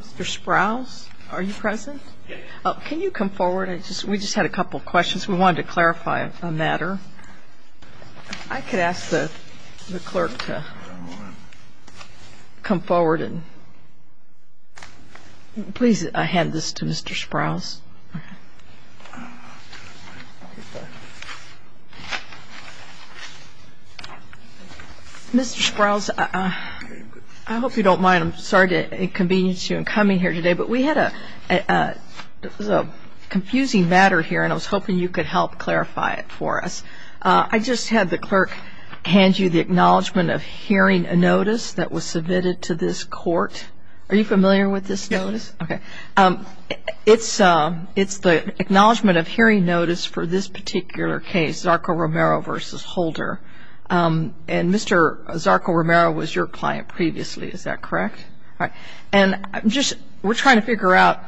Mr. Sprouse, are you present? Yes. Can you come forward? We just had a couple of questions. We wanted to clarify a matter. I could ask the clerk to come forward and please hand this to Mr. Sprouse. Mr. Sprouse, I hope you don't mind. I'm sorry to inconvenience you in coming here today. But we had a confusing matter here, and I was hoping you could help clarify it for us. I just had the clerk hand you the acknowledgement of hearing a notice that was submitted to this court. Yes. Okay. It's the acknowledgement of hearing notice for this particular case, Zarco-Romero v. Holder. And Mr. Zarco-Romero was your client previously, is that correct? Right. And I'm just we're trying to figure out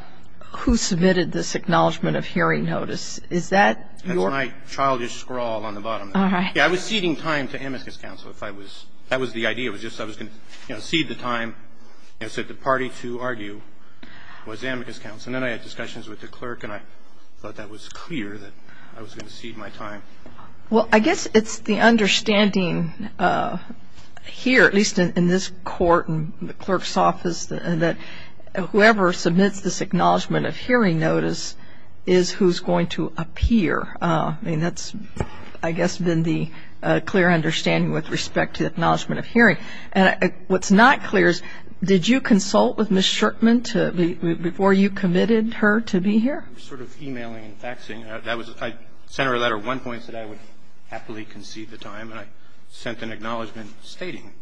who submitted this acknowledgement of hearing notice. Is that your That's my childish scrawl on the bottom there. All right. Yeah, I was ceding time to Amicus Council if I was that was the idea. I was going to cede the time so the party to argue was Amicus Council. And then I had discussions with the clerk, and I thought that was clear that I was going to cede my time. Well, I guess it's the understanding here, at least in this court and the clerk's office, that whoever submits this acknowledgement of hearing notice is who's going to appear. I mean, that's, I guess, been the clear understanding with respect to acknowledgement of hearing. And what's not clear is, did you consult with Ms. Schertman before you committed her to be here? Sort of emailing and faxing. I sent her a letter at one point that I would happily concede the time, and I sent an acknowledgement stating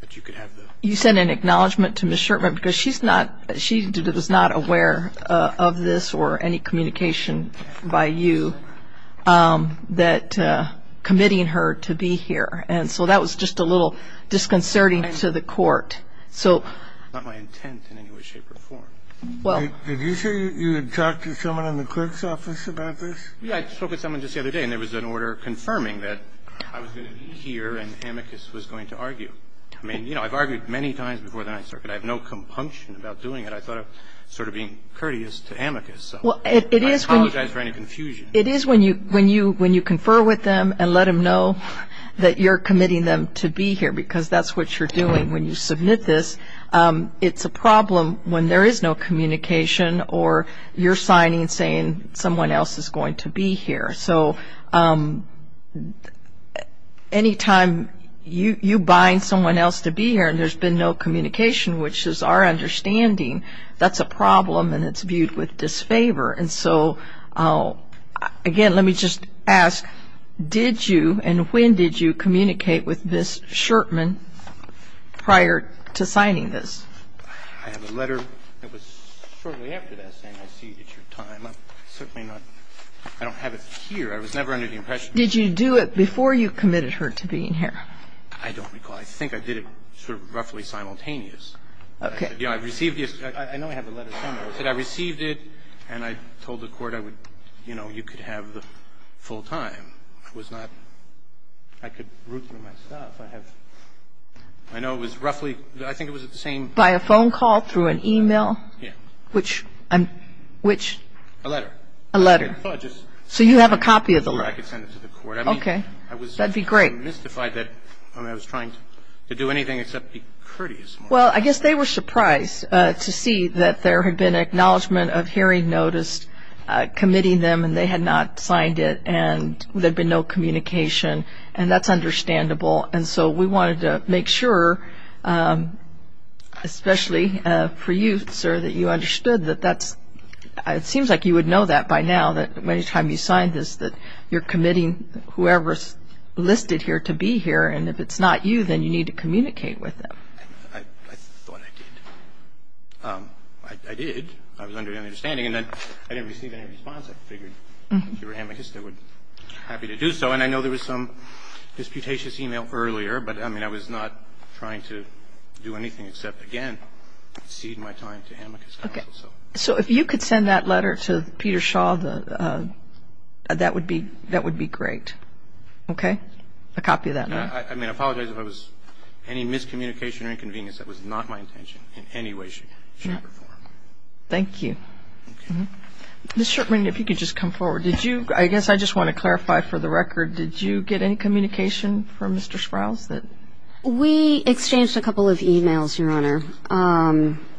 that you could have the You sent an acknowledgement to Ms. Schertman because she's not, she was not aware of this or any communication by you that committing her to be here. And so that was just a little disconcerting to the court. That's not my intent in any way, shape, or form. Did you say you had talked to someone in the clerk's office about this? Yeah, I spoke with someone just the other day, and there was an order confirming that I was going to be here and Amicus was going to argue. I mean, you know, I've argued many times before the Ninth Circuit. I have no compunction about doing it. I thought of sort of being courteous to Amicus, so I apologize for any confusion. It is when you confer with them and let them know that you're committing them to be here because that's what you're doing when you submit this. It's a problem when there is no communication or you're signing saying someone else is going to be here. So any time you bind someone else to be here and there's been no communication, which is our understanding, that's a problem and it's viewed with disfavor. And so, again, let me just ask, did you and when did you communicate with Ms. Shurtman prior to signing this? I have a letter that was shortly after that saying, I don't have it here. I was never under the impression. Did you do it before you committed her to being here? I don't recall. I think I did it sort of roughly simultaneous. Okay. Yeah, I received it. I know I have the letter somewhere. I said I received it and I told the Court I would, you know, you could have the full time. It was not, I could root through my stuff. I have, I know it was roughly, I think it was the same. By a phone call, through an e-mail? Yeah. Which, which? A letter. A letter. So you have a copy of the letter. I could send it to the Court. Okay. That would be great. I was mystified that I was trying to do anything except be courteous. Well, I guess they were surprised to see that there had been acknowledgement of hearing noticed, committing them and they had not signed it and there had been no communication, and that's understandable. And so we wanted to make sure, especially for you, sir, that you understood that that's, it seems like you would know that by now, that by the time you signed this, that you're committing whoever's listed here to be here and if it's not you then you need to communicate with them. I thought I did. I did. I was under an understanding. And then I didn't receive any response. I figured if you were amicus, I would be happy to do so. And I know there was some disputatious e-mail earlier, but, I mean, I was not trying to do anything except, again, cede my time to amicus counsel. So if you could send that letter to Peter Shaw, that would be great. Okay? A copy of that letter. I mean, I apologize if there was any miscommunication or inconvenience. That was not my intention in any way, shape, or form. Thank you. Ms. Sherman, if you could just come forward. Did you, I guess I just want to clarify for the record, did you get any communication from Mr. Sprowls? We exchanged a couple of e-mails, Your Honor.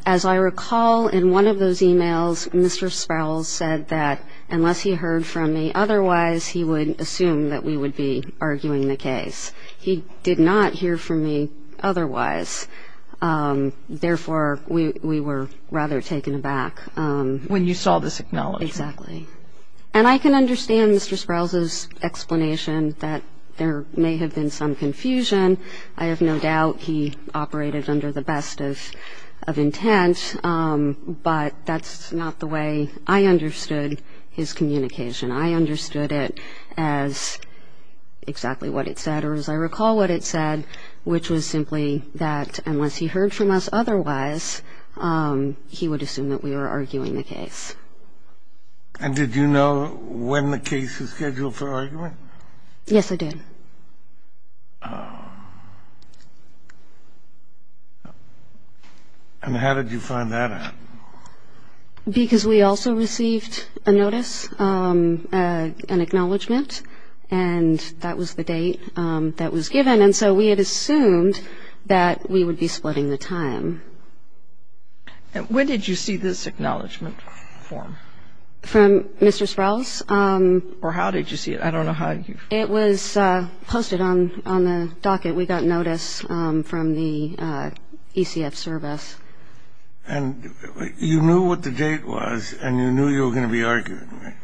As I recall, in one of those e-mails, Mr. Sprowls said that unless he heard from me, otherwise, he would assume that we would be arguing the case. He did not hear from me otherwise. Therefore, we were rather taken aback. When you saw this acknowledgment. Exactly. And I can understand Mr. Sprowls's explanation that there may have been some confusion. I have no doubt he operated under the best of intent, but that's not the way I understood his communication. I understood it as exactly what it said, or as I recall what it said, which was simply that unless he heard from us otherwise, he would assume that we were arguing the case. And did you know when the case was scheduled for argument? Yes, I did. And how did you find that out? Because we also received a notice, an acknowledgment, and that was the date that was given, and so we had assumed that we would be splitting the time. And when did you see this acknowledgment form? From Mr. Sprowls. Or how did you see it? I don't know how you. It was posted on the docket. We got notice from the ECF service. And you knew what the date was, and you knew you were going to be arguing, right?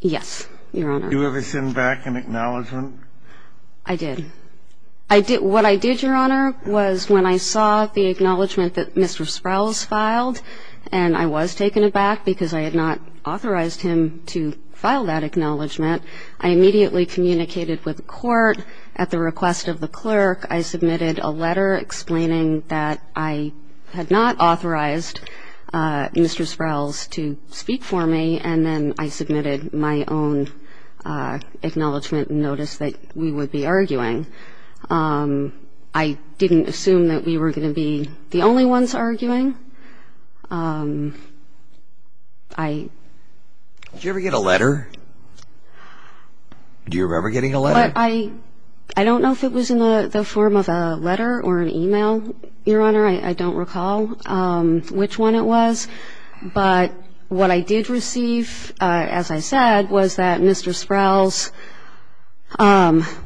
Yes, Your Honor. Did you ever send back an acknowledgment? I did. What I did, Your Honor, was when I saw the acknowledgment that Mr. Sprowls filed, and I was taken aback because I had not authorized him to file that acknowledgment, I immediately communicated with the court at the request of the clerk. I submitted a letter explaining that I had not authorized Mr. Sprowls to speak for me, and then I submitted my own acknowledgment notice that we would be arguing. I didn't assume that we were going to be the only ones arguing. Did you ever get a letter? Do you remember getting a letter? I don't know if it was in the form of a letter or an e-mail, Your Honor. I don't recall which one it was. But what I did receive, as I said, was that Mr. Sprowls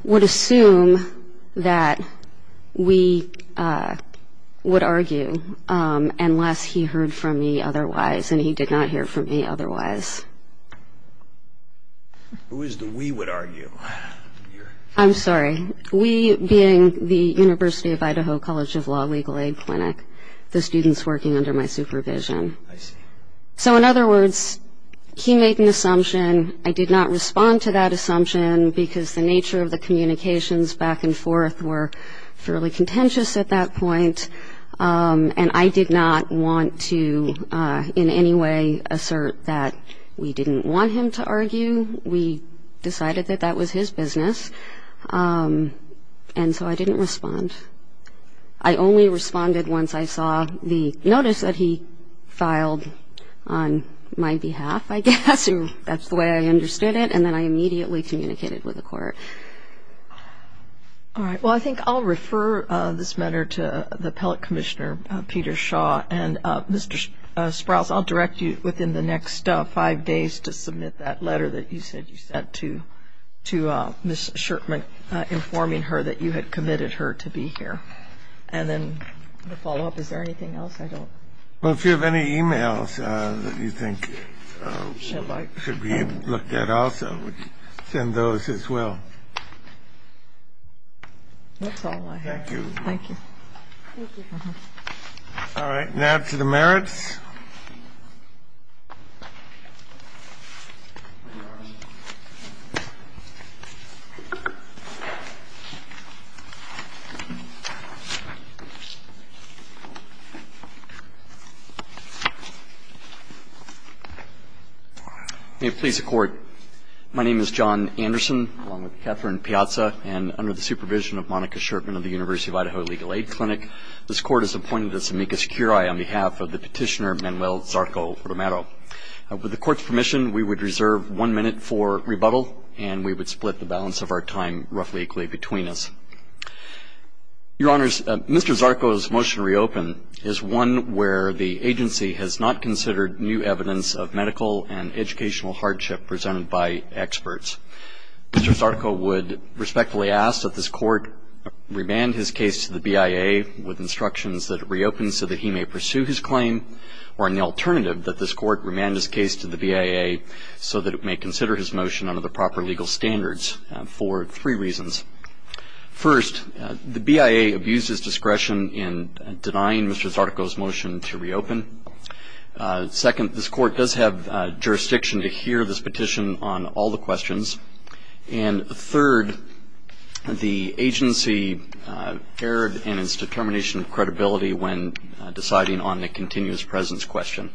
would assume that we would argue unless he heard from me otherwise, and he did not hear from me otherwise. Who is the we would argue? I'm sorry. We being the University of Idaho College of Law Legal Aid Clinic, the students working under my supervision. I see. So, in other words, he made an assumption. I did not respond to that assumption because the nature of the communications back and forth were fairly contentious at that point, and I did not want to in any way assert that we didn't want him to argue. We decided that that was his business, and so I didn't respond. I only responded once I saw the notice that he filed on my behalf, I guess. That's the way I understood it, and then I immediately communicated with the court. All right. Well, I think I'll refer this matter to the appellate commissioner, Peter Shaw, and Mr. Sprowls, I'll direct you within the next five days to submit that letter that you said you sent to Ms. Shertman, informing her that you had committed her to be here, and then the follow-up. Is there anything else? Well, if you have any e-mails that you think should be looked at also, send those as well. That's all I have. Thank you. Thank you. Thank you. All right. Now to the merits. May it please the Court. My name is John Anderson, along with Catherine Piazza, and under the supervision of Monica Shertman of the University of Idaho Legal Aid Clinic, this Court has appointed us amicus curiae on behalf of the petitioner Manuel Zarco Romero. With the Court's permission, we would reserve one minute for rebuttal, and we would split the balance of our time roughly equally between us. Your Honors, Mr. Zarco's motion to reopen is one where the agency has not considered new evidence of medical and educational hardship presented by experts. Mr. Zarco would respectfully ask that this Court remand his case to the BIA with instructions that it reopen so that he may pursue his claim, or an alternative that this Court remand his case to the BIA so that it may consider his motion under the proper legal standards for three reasons. First, the BIA abuses discretion in denying Mr. Zarco's motion to reopen. Second, this Court does have jurisdiction to hear this petition on all the questions. And third, the agency erred in its determination of credibility when deciding on the continuous presence question.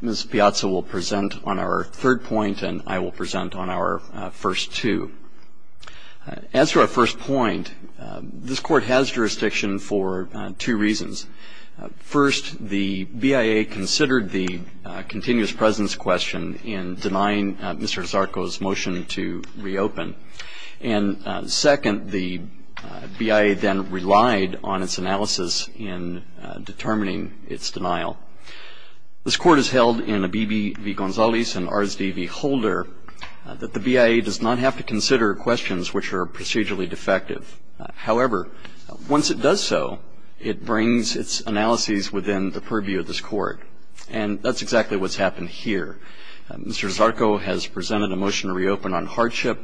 Ms. Piazza will present on our third point, and I will present on our first two. As for our first point, this Court has jurisdiction for two reasons. First, the BIA considered the continuous presence question in denying Mr. Zarco's motion to reopen. And second, the BIA then relied on its analysis in determining its denial. This Court has held in a BB v. Gonzales and RSD v. Holder that the BIA does not have to consider questions which are procedurally defective. However, once it does so, it brings its analyses within the purview of this Court. And that's exactly what's happened here. Mr. Zarco has presented a motion to reopen on hardship.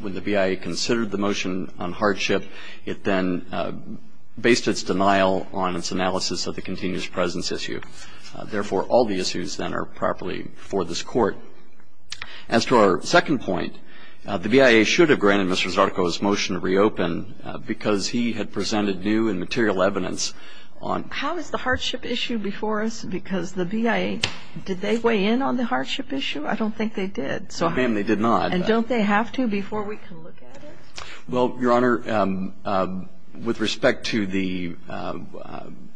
When the BIA considered the motion on hardship, it then based its denial on its analysis of the continuous presence issue. So as to our second point, the BIA should have granted Mr. Zarco's motion to reopen because he had presented new and material evidence on ---- How is the hardship issue before us? Because the BIA, did they weigh in on the hardship issue? I don't think they did. Ma'am, they did not. And don't they have to before we can look at it? Well, Your Honor, with respect to the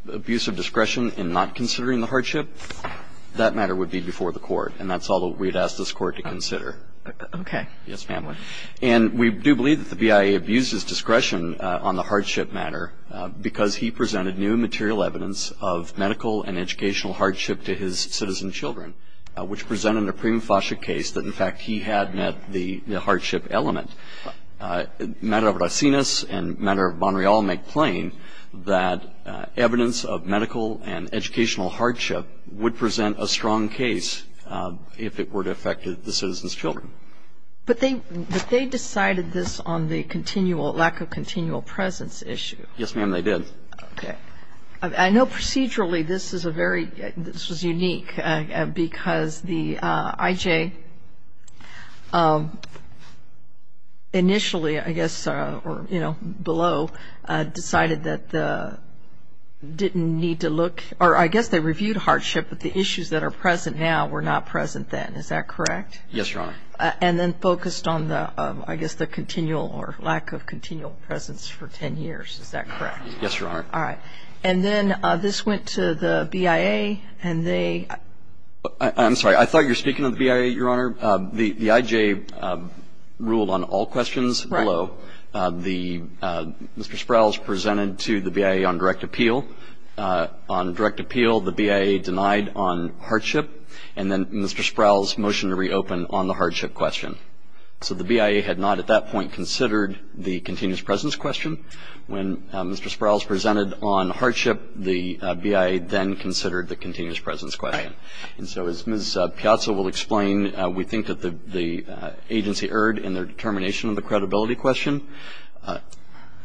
abuse of discretion in not considering the hardship, that matter would be before the Court. And that's all that we'd ask this Court to consider. Okay. Yes, ma'am. And we do believe that the BIA abused its discretion on the hardship matter because he presented new and material evidence of medical and educational hardship to his citizen children, which presented a prima facie case that, in fact, he had met the hardship element. Matter of Racinas and matter of Montreal make plain that evidence of medical and educational hardship would present a strong case if it were to affect the citizen's children. But they decided this on the lack of continual presence issue. Yes, ma'am, they did. Okay. I know procedurally this is a very ---- this was unique because the IJ initially, I guess, or, you know, below, decided that the ---- didn't need to look or I guess they reviewed hardship, but the issues that are present now were not present then. Is that correct? Yes, Your Honor. And then focused on the, I guess, the continual or lack of continual presence for 10 years. Is that correct? Yes, Your Honor. All right. And then this went to the BIA and they ---- I'm sorry. I thought you were speaking to the BIA, Your Honor. The IJ ruled on all questions below. Mr. Sproul's presented to the BIA on direct appeal. On direct appeal, the BIA denied on hardship. And then Mr. Sproul's motion to reopen on the hardship question. So the BIA had not at that point considered the continuous presence question. When Mr. Sproul's presented on hardship, the BIA then considered the continuous presence question. Right. And so as Ms. Piazza will explain, we think that the agency erred in their determination of the credibility question.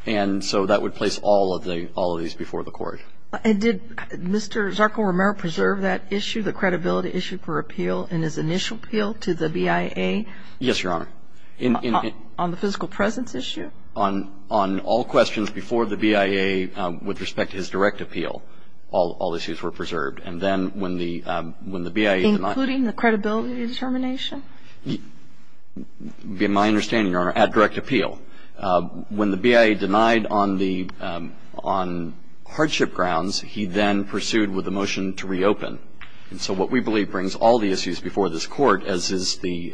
And so that would place all of these before the court. And did Mr. Zarco-Romero preserve that issue, the credibility issue, for appeal in his initial appeal to the BIA? Yes, Your Honor. On the physical presence issue? On all questions before the BIA with respect to his direct appeal, all issues were preserved. And then when the BIA denied ---- Including the credibility determination? My understanding, Your Honor, at direct appeal. When the BIA denied on the ---- on hardship grounds, he then pursued with a motion to reopen. And so what we believe brings all the issues before this Court, as is the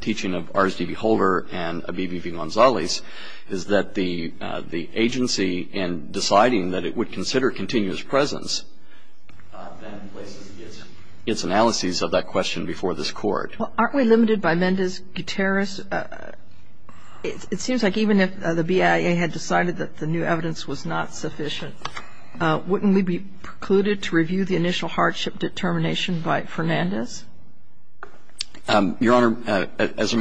teaching of R.S.D.B. Holder and Abibi V. Gonzales, is that the agency in deciding that it would consider continuous presence than places its analyses of that question before this Court. Well, aren't we limited by Mendez Gutierrez? It seems like even if the BIA had decided that the new evidence was not sufficient, wouldn't we be precluded to review the initial hardship determination by Fernandez? Your Honor, as a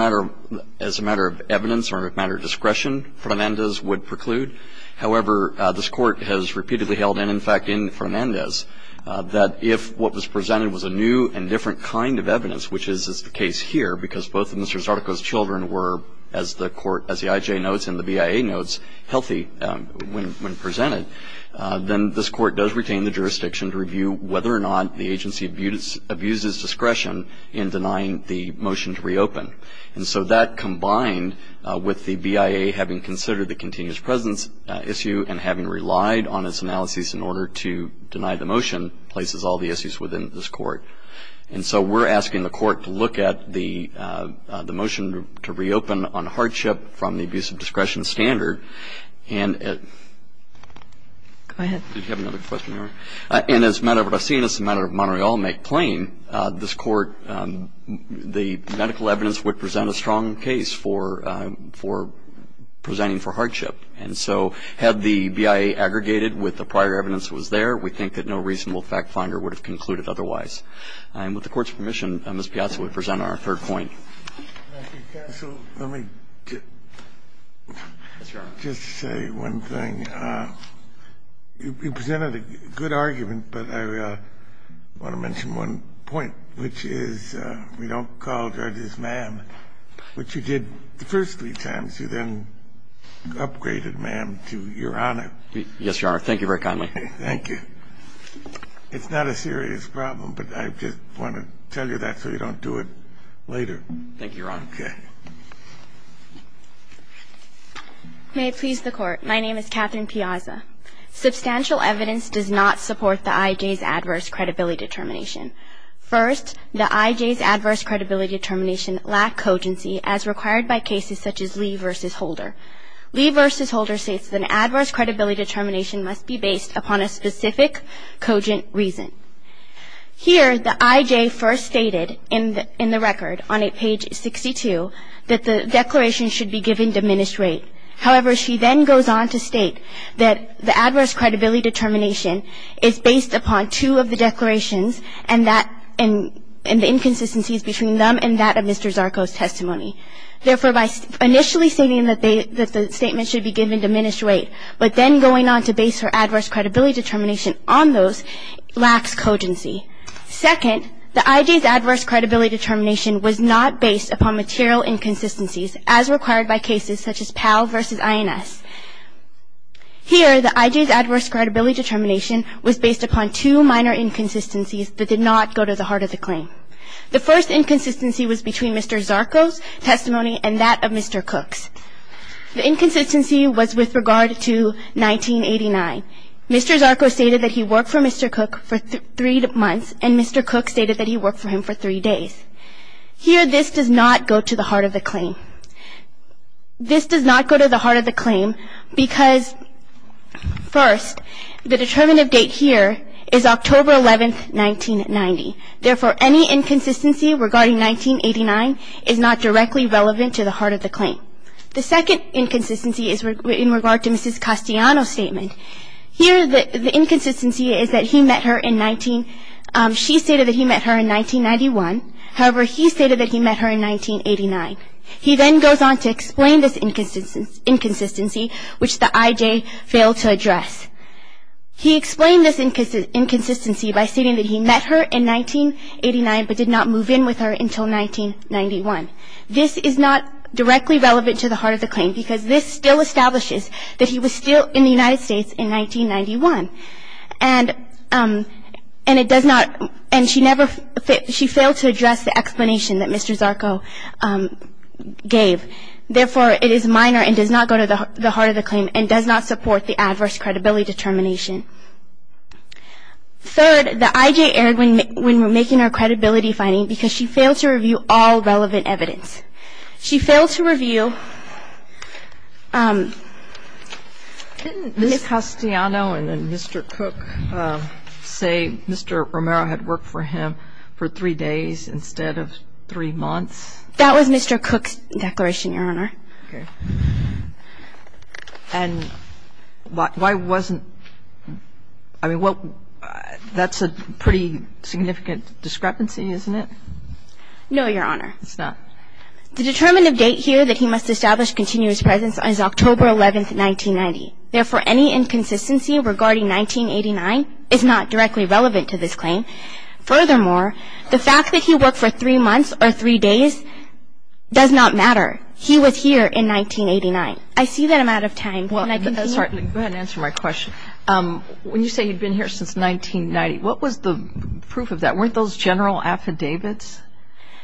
matter of evidence or a matter of discretion, Fernandez would preclude. However, this Court has repeatedly held, and in fact in Fernandez, that if what was presented was a new and different kind of evidence, which is the case here because both of Mr. Sartico's children were, as the IJ notes and the BIA notes, healthy when presented, then this Court does retain the jurisdiction to review whether or not the agency abuses discretion in denying the motion to reopen. And so that, combined with the BIA having considered the continuous presence issue and having relied on its analyses in order to deny the motion, places all the issues within this Court. And so we're asking the Court to look at the motion to reopen on hardship from the abuse of discretion standard. Go ahead. Did you have another question, Your Honor? And as a matter of racine, as a matter of monoreal make plain, this Court, the medical evidence would present a strong case for presenting for hardship. And so had the BIA aggregated with the prior evidence that was there, we think that no reasonable fact finder would have concluded otherwise. And with the Court's permission, Ms. Piazza would present our third point. Thank you, counsel. Let me just say one thing. You presented a good argument, but I want to mention one point, which is we don't call judges ma'am, which you did the first three times. You then upgraded ma'am to Your Honor. Yes, Your Honor. Thank you very kindly. Thank you. It's not a serious problem, but I just want to tell you that so you don't do it later. Thank you, Your Honor. Okay. May it please the Court. My name is Catherine Piazza. Substantial evidence does not support the I.J.'s adverse credibility determination. First, the I.J.'s adverse credibility determination lacked cogency as required by cases such as Lee v. Holder. Lee v. Holder states that an adverse credibility determination must be based upon a specific cogent reason. Here, the I.J. first stated in the record on page 62 that the declaration should be given diminished rate. However, she then goes on to state that the adverse credibility determination is based upon two of the declarations and the inconsistencies between them and that of Mr. Zarco's testimony. Therefore, by initially stating that the statement should be given diminished rate but then going on to base her adverse credibility determination on those lacks cogency. Second, the I.J.'s adverse credibility determination was not based upon material inconsistencies as required by cases such as Powell v. INS. Here, the I.J.'s adverse credibility determination was based upon two minor inconsistencies that did not go to the heart of the claim. The first inconsistency was between Mr. Zarco's testimony and that of Mr. Cook's. The inconsistency was with regard to 1989. Mr. Zarco stated that he worked for Mr. Cook for three months, and Mr. Cook stated that he worked for him for three days. Here, this does not go to the heart of the claim. This does not go to the heart of the claim because, first, the determinative date here is October 11, 1990. Therefore, any inconsistency regarding 1989 is not directly relevant to the heart of the claim. The second inconsistency is in regard to Mrs. Castellano's statement. Here, the inconsistency is that he met her in 19 — she stated that he met her in 1991. However, he stated that he met her in 1989. He then goes on to explain this inconsistency, which the I.J. failed to address. He explained this inconsistency by stating that he met her in 1989 but did not move in with her until 1991. This is not directly relevant to the heart of the claim because this still establishes that he was still in the United States in 1991. And it does not — and she never — she failed to address the explanation that Mr. Zarco gave. Therefore, it is minor and does not go to the heart of the claim and does not support the adverse credibility determination. Third, the I.J. erred when making her credibility finding because she failed to review all relevant evidence. She failed to review — Didn't Mrs. Castellano and then Mr. Cook say Mr. Romero had worked for him for three days instead of three months? That was Mr. Cook's declaration, Your Honor. Okay. And why wasn't — I mean, what — that's a pretty significant discrepancy, isn't it? No, Your Honor. It's not. The determinative date here that he must establish continuous presence is October 11, 1990. Therefore, any inconsistency regarding 1989 is not directly relevant to this claim. Furthermore, the fact that he worked for three months or three days does not matter. He was here in 1989. I see that I'm out of time. Can I continue? I'm sorry. Go ahead and answer my question. When you say he'd been here since 1990, what was the proof of that? Weren't those general affidavits?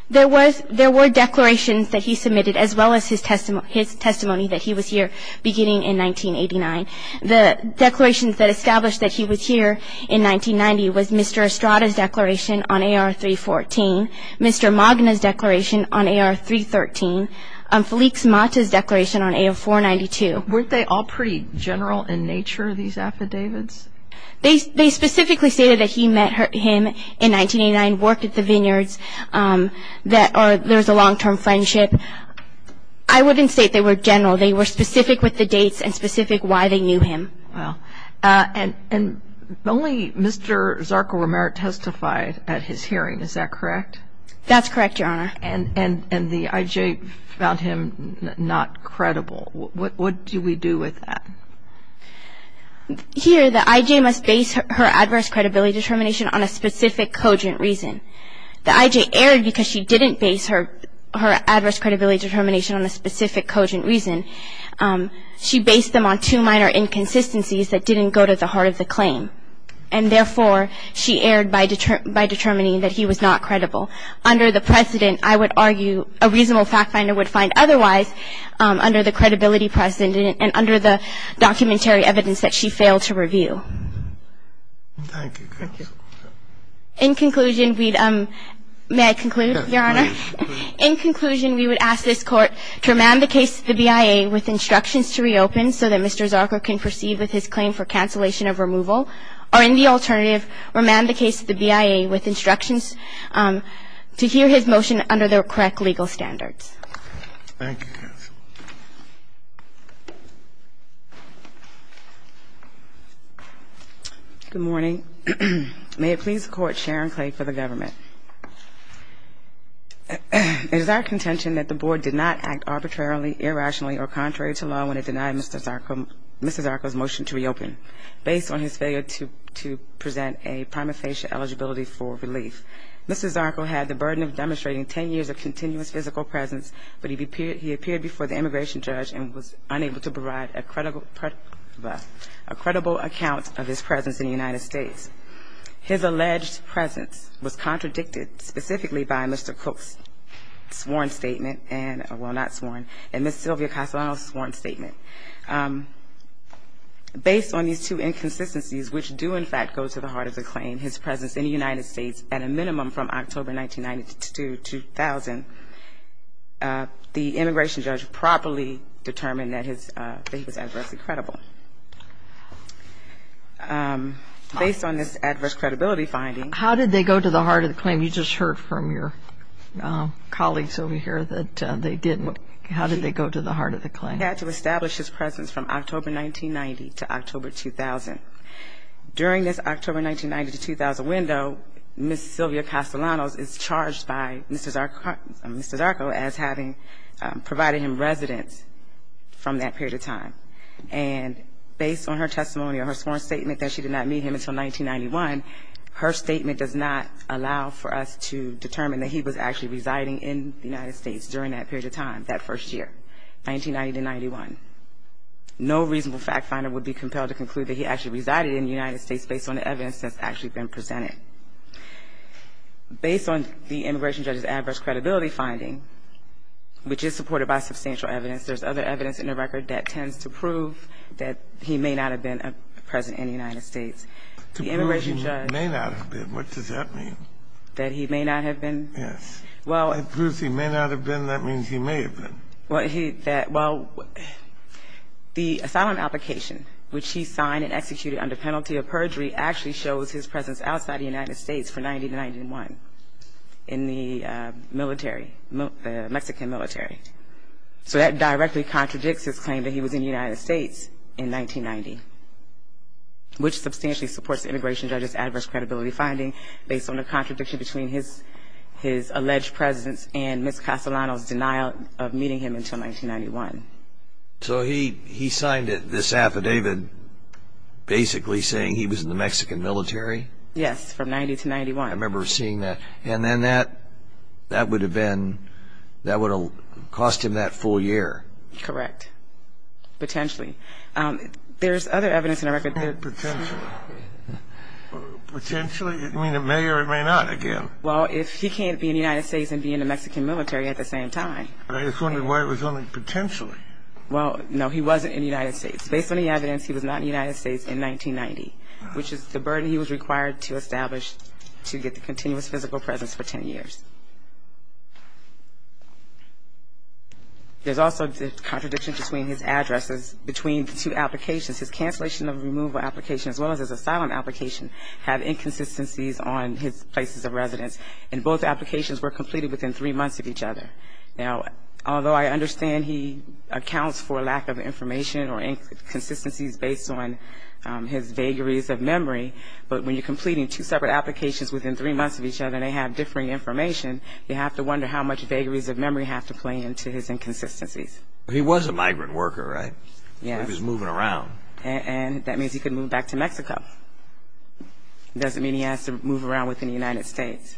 There was — there were declarations that he submitted as well as his testimony that he was here beginning in 1989. The declarations that established that he was here in 1990 was Mr. Estrada's declaration on AR-314, Mr. Magna's declaration on AR-313, Felix Mata's declaration on AR-492. Weren't they all pretty general in nature, these affidavits? They specifically stated that he met him in 1989, worked at the vineyards, that there was a long-term friendship. I wouldn't say they were general. They were specific with the dates and specific why they knew him. And only Mr. Zarco Romero testified at his hearing, is that correct? That's correct, Your Honor. And the I.J. found him not credible. What do we do with that? Here, the I.J. must base her adverse credibility determination on a specific cogent reason. The I.J. erred because she didn't base her adverse credibility determination on a specific cogent reason. She based them on two minor inconsistencies that didn't go to the heart of the claim. And therefore, she erred by determining that he was not credible. Under the precedent, I would argue a reasonable fact finder would find otherwise under the credibility precedent and under the documentary evidence that she failed to review. Thank you. In conclusion, we'd – may I conclude, Your Honor? Please. In conclusion, we would ask this Court to remand the case to the BIA with instructions to reopen so that Mr. Zarco can proceed with his claim for cancellation of removal, or in the alternative, remand the case to the BIA with instructions to hear his motion under the correct legal standards. Thank you, counsel. Good morning. May it please the Court, Sharon Clay for the government. It is our contention that the Board did not act arbitrarily, irrationally, or contrary to law when it denied Mr. Zarco's motion to reopen, based on his failure to present a prima facie eligibility for relief. Mr. Zarco had the burden of demonstrating 10 years of continuous physical presence, but he appeared before the immigration judge and was unable to provide a credible account of his presence in the United States. His alleged presence was contradicted specifically by Mr. Cook's sworn statement and – well, not sworn – and Ms. Sylvia Castellano's sworn statement. Based on these two inconsistencies, which do, in fact, go to the heart of the claim, and his presence in the United States at a minimum from October 1992 to 2000, the immigration judge properly determined that he was adversely credible. Based on this adverse credibility finding – How did they go to the heart of the claim? You just heard from your colleagues over here that they didn't. How did they go to the heart of the claim? He had to establish his presence from October 1990 to October 2000. During this October 1990 to 2000 window, Ms. Sylvia Castellano is charged by Mr. Zarco as having provided him residence from that period of time. And based on her testimony or her sworn statement that she did not meet him until 1991, her statement does not allow for us to determine that he was actually residing in the United States during that period of time, that first year, 1990 to 1991. No reasonable fact finder would be compelled to conclude that he actually resided in the United States based on the evidence that's actually been presented. Based on the immigration judge's adverse credibility finding, which is supported by substantial evidence, there's other evidence in the record that tends to prove that he may not have been present in the United States. The immigration judge – To prove he may not have been, what does that mean? That he may not have been? Yes. If it proves he may not have been, that means he may have been. Well, the asylum application, which he signed and executed under penalty of perjury, actually shows his presence outside the United States from 1990 to 1991 in the military, the Mexican military. So that directly contradicts his claim that he was in the United States in 1990, which substantially supports the immigration judge's adverse credibility finding based on the contradiction between his alleged presence and Ms. Castellano's denial of meeting him until 1991. So he signed this affidavit basically saying he was in the Mexican military? Yes, from 1990 to 1991. I remember seeing that. And then that would have been – that would have cost him that full year. Correct. Potentially. There's other evidence in the record that – Potentially. Potentially? You mean it may or it may not, again? Well, if he can't be in the United States and be in the Mexican military at the same time. I just wondered why it was only potentially. Well, no, he wasn't in the United States. Based on the evidence, he was not in the United States in 1990, which is the burden he was required to establish to get the continuous physical presence for 10 years. There's also the contradiction between his addresses, between the two applications. His cancellation of removal application as well as his asylum application have inconsistencies on his places of residence. And both applications were completed within three months of each other. Now, although I understand he accounts for lack of information or inconsistencies based on his vagaries of memory, but when you're completing two separate applications within three months of each other and they have differing information, you have to wonder how much vagaries of memory have to play into his inconsistencies. He was a migrant worker, right? Yes. He was moving around. And that means he could move back to Mexico. It doesn't mean he has to move around within the United States.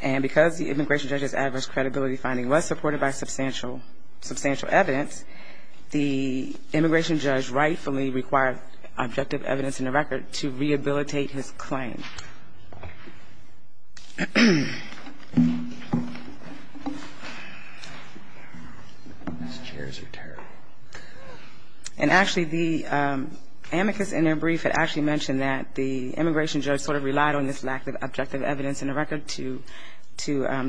And because the immigration judge's adverse credibility finding was supported by substantial evidence, the immigration judge rightfully required objective evidence in the record to rehabilitate his claim. These chairs are terrible. And actually the amicus in their brief had actually mentioned that the immigration judge sort of relied on this lack of objective evidence in the record to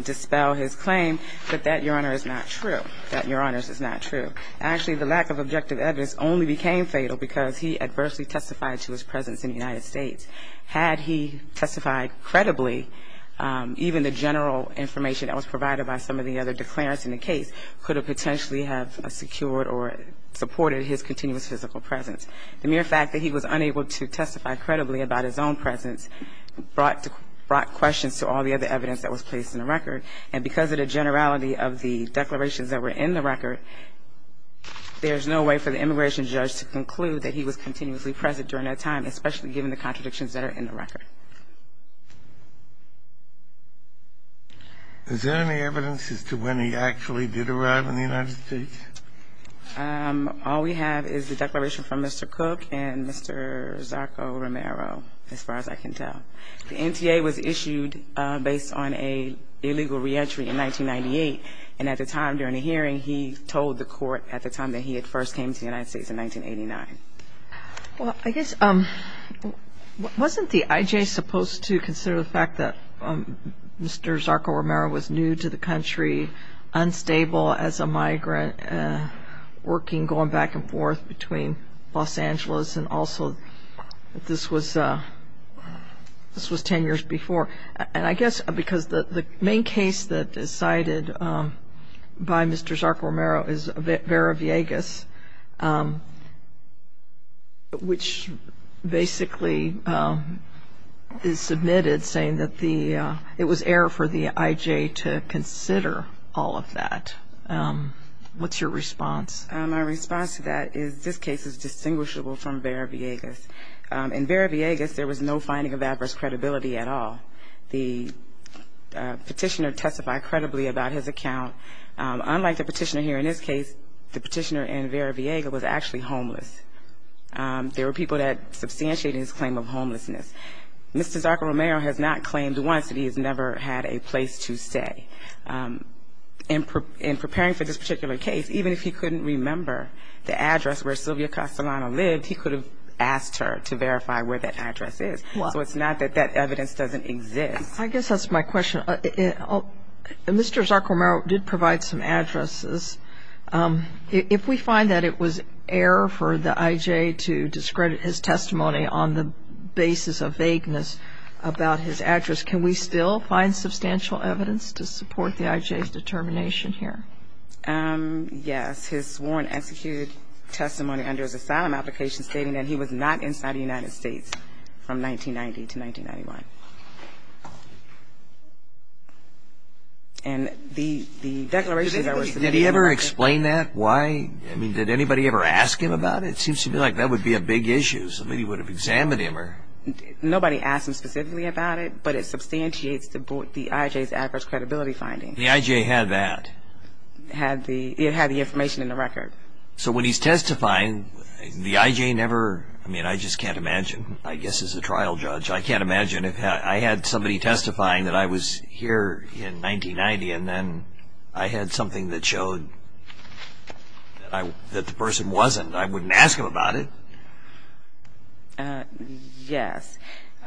dispel his claim, but that, Your Honor, is not true. That, Your Honors, is not true. Actually, the lack of objective evidence only became fatal because he adversely testified to his presence in the United States. Had he testified credibly, even the general information that was provided by some of the other declarants in the case could have potentially have secured or supported his continuous physical presence. The mere fact that he was unable to testify credibly about his own presence brought questions to all the other evidence that was placed in the record. And because of the generality of the declarations that were in the record, there's no way for the immigration judge to conclude that he was continuously present during that time, especially given the contradictions that are in the record. Is there any evidence as to when he actually did arrive in the United States? All we have is the declaration from Mr. Cook and Mr. Zarco Romero, as far as I can tell. The NTA was issued based on an illegal reentry in 1998, and at the time during the hearing he told the court at the time that he had first came to the United States in 1989. Well, I guess wasn't the IJ supposed to consider the fact that Mr. Zarco Romero was new to the country, unstable as a migrant, working, going back and forth between Los Angeles and also this was ten years before? And I guess because the main case that is cited by Mr. Zarco Romero is Vera Viegas, which basically is submitted saying that it was error for the IJ to consider all of that. What's your response? My response to that is this case is distinguishable from Vera Viegas. In Vera Viegas there was no finding of adverse credibility at all. The petitioner testified credibly about his account. Unlike the petitioner here in this case, the petitioner in Vera Viegas was actually homeless. There were people that substantiated his claim of homelessness. Mr. Zarco Romero has not claimed once that he has never had a place to stay. In preparing for this particular case, even if he couldn't remember the address where Silvia Castellano lived, he could have asked her to verify where that address is. So it's not that that evidence doesn't exist. I guess that's my question. Mr. Zarco Romero did provide some addresses. If we find that it was error for the IJ to discredit his testimony on the basis of vagueness about his address, can we still find substantial evidence to support the IJ's determination here? Yes. His sworn executed testimony under his asylum application stating that he was not inside the United States from 1990 to 1991. And the declaration that was submitted... Did he ever explain that? Why? I mean, did anybody ever ask him about it? It seems to me like that would be a big issue. Somebody would have examined him or... Nobody asked him specifically about it, but it substantiates the IJ's adverse credibility findings. The IJ had that. It had the information in the record. So when he's testifying, the IJ never... I mean, I just can't imagine, I guess as a trial judge, I can't imagine if I had somebody testifying that I was here in 1990, and then I had something that showed that the person wasn't. I wouldn't ask him about it. Yes.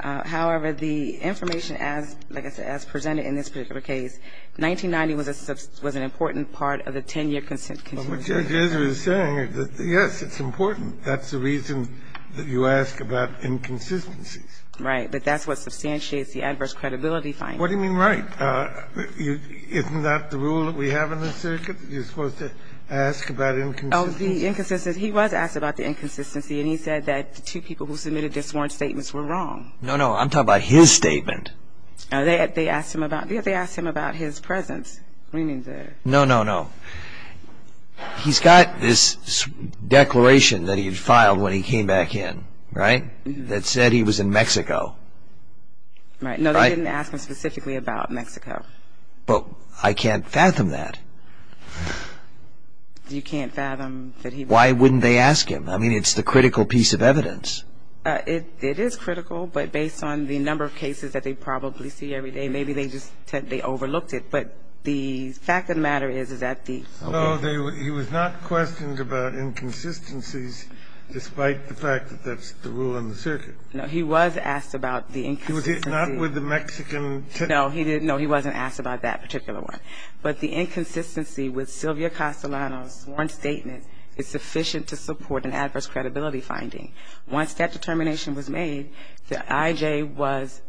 However, the information as, like I said, as presented in this particular case, 1990 was an important part of the 10-year consent... But what Judge Ezra is saying is that, yes, it's important. That's the reason that you ask about inconsistencies. Right. But that's what substantiates the adverse credibility findings. What do you mean right? Isn't that the rule that we have in the circuit? You're supposed to ask about inconsistencies? Oh, the inconsistencies. He was asked about the inconsistency, and he said that the two people who submitted diswarrant statements were wrong. No, no, I'm talking about his statement. They asked him about his presence. No, no, no. He's got this declaration that he had filed when he came back in, right, that said he was in Mexico. Right. No, they didn't ask him specifically about Mexico. But I can't fathom that. You can't fathom that he... Why wouldn't they ask him? I mean, it's the critical piece of evidence. It is critical, but based on the number of cases that they probably see every day, maybe they just overlooked it. But the fact of the matter is, is that the... No, he was not questioned about inconsistencies, despite the fact that that's the rule in the circuit. No, he was asked about the inconsistency. Not with the Mexican... No, he didn't. No, he wasn't asked about that particular one. But the inconsistency with Sylvia Castellano's sworn statement is sufficient to support an adverse credibility finding. Once that determination was made, the I.J. was...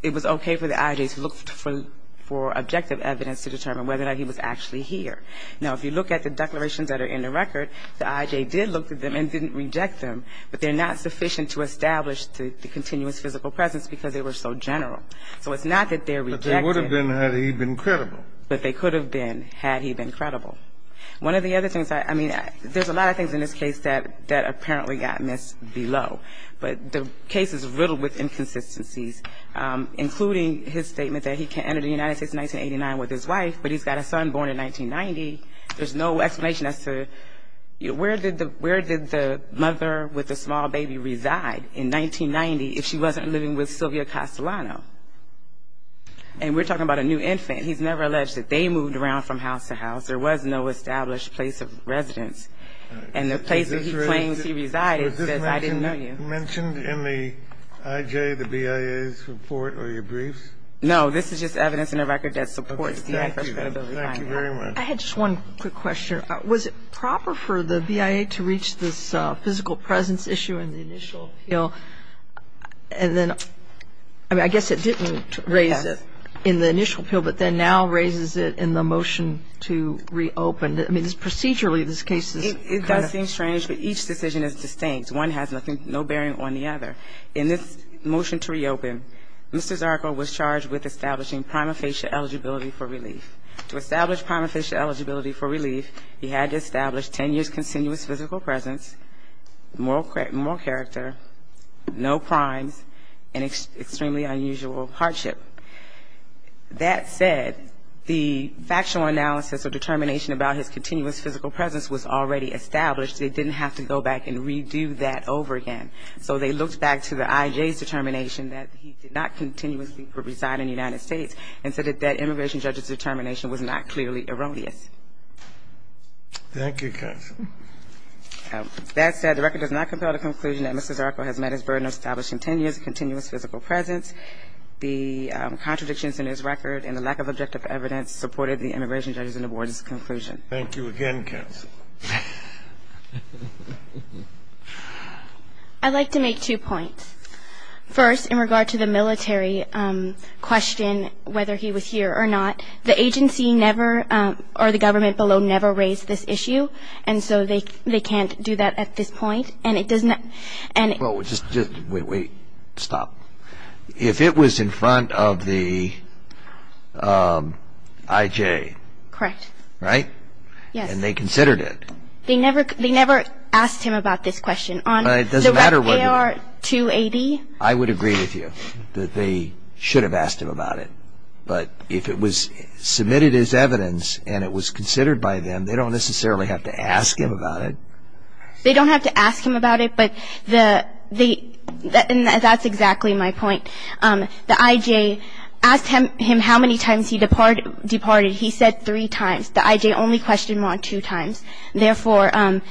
It was okay for the I.J. to look for objective evidence to determine whether or not he was actually here. Now, if you look at the declarations that are in the record, the I.J. did look at them and didn't reject them, but they're not sufficient to establish the continuous physical presence because they were so general. So it's not that they're rejected. But they would have been had he been credible. But they could have been had he been credible. One of the other things I mean, there's a lot of things in this case that apparently got missed below. But the case is riddled with inconsistencies, including his statement that he entered the United States in 1989 with his wife, but he's got a son born in 1990. There's no explanation as to where did the mother with the small baby reside in 1990 if she wasn't living with Sylvia Castellano. And we're talking about a new infant. He's never alleged that they moved around from house to house. There was no established place of residence. And the place that he claims he resided says, I didn't know you. Was this mentioned in the I.J., the BIA's report or your briefs? No. This is just evidence in the record that supports the adverse credibility finding. Thank you very much. I had just one quick question. Was it proper for the BIA to reach this physical presence issue in the initial appeal? And then, I mean, I guess it didn't raise it in the initial appeal, but then now raises it in the motion to reopen. I mean, procedurally, this case is kind of ---- It does seem strange, but each decision is distinct. One has no bearing on the other. In this motion to reopen, Mr. Zarco was charged with establishing prima facie eligibility for relief. To establish prima facie eligibility for relief, he had to establish 10 years' continuous physical presence, moral character, no crimes, and extremely unusual hardship. That said, the factual analysis of determination about his continuous physical presence was already established. They didn't have to go back and redo that over again. So they looked back to the I.J.'s determination that he did not continuously reside in the United States and said that that immigration judge's determination was not clearly erroneous. Thank you, counsel. That said, the record does not compel the conclusion that Mr. Zarco has met his burden of establishing 10 years' continuous physical presence. The contradictions in his record and the lack of objective evidence supported the immigration judge's and the board's conclusion. Thank you again, counsel. I'd like to make two points. First, in regard to the military question, whether he was here or not, the agency never or the government below never raised this issue, and so they can't do that at this point. And it doesn't – Well, just wait. Stop. If it was in front of the I.J. Correct. Right? Yes. And they considered it. They never asked him about this question. It doesn't matter whether – Direct AR 280. I would agree with you that they should have asked him about it. But if it was submitted as evidence and it was considered by them, they don't necessarily have to ask him about it. They don't have to ask him about it, but the – and that's exactly my point. The I.J. asked him how many times he departed. He said three times. The I.J. only questioned him on two times. Therefore, the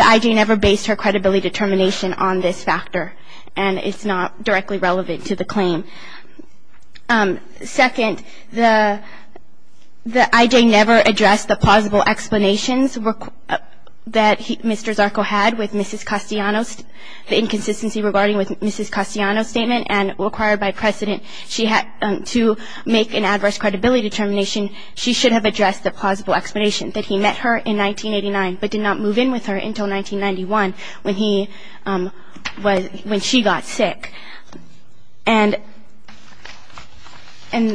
I.J. never based her credibility determination on this factor, and it's not directly relevant to the claim. Second, the I.J. never addressed the plausible explanations that Mr. Zarco had with Mrs. Castellanos, the inconsistency regarding Mrs. Castellanos' statement, and required by precedent she had to make an adverse credibility determination, she should have addressed the plausible explanation that he met her in 1989 but did not move in with her until 1991 when he – when she got sick. And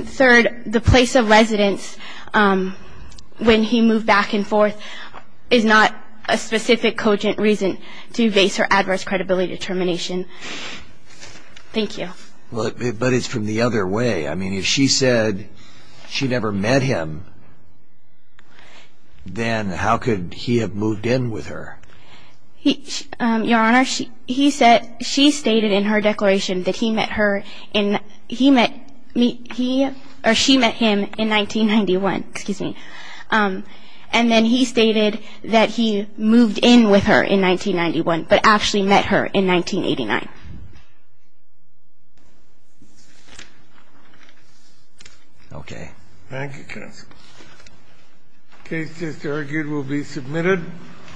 third, the place of residence when he moved back and forth is not a specific cogent reason to base her adverse credibility determination. Thank you. But it's from the other way. I mean, if she said she never met him, then how could he have moved in with her? Your Honor, he said – she stated in her declaration that he met her in – he met – he – or she met him in 1991. Excuse me. And then he stated that he moved in with her in 1991 but actually met her in 1989. Okay. Thank you, counsel. The case is argued will be submitted.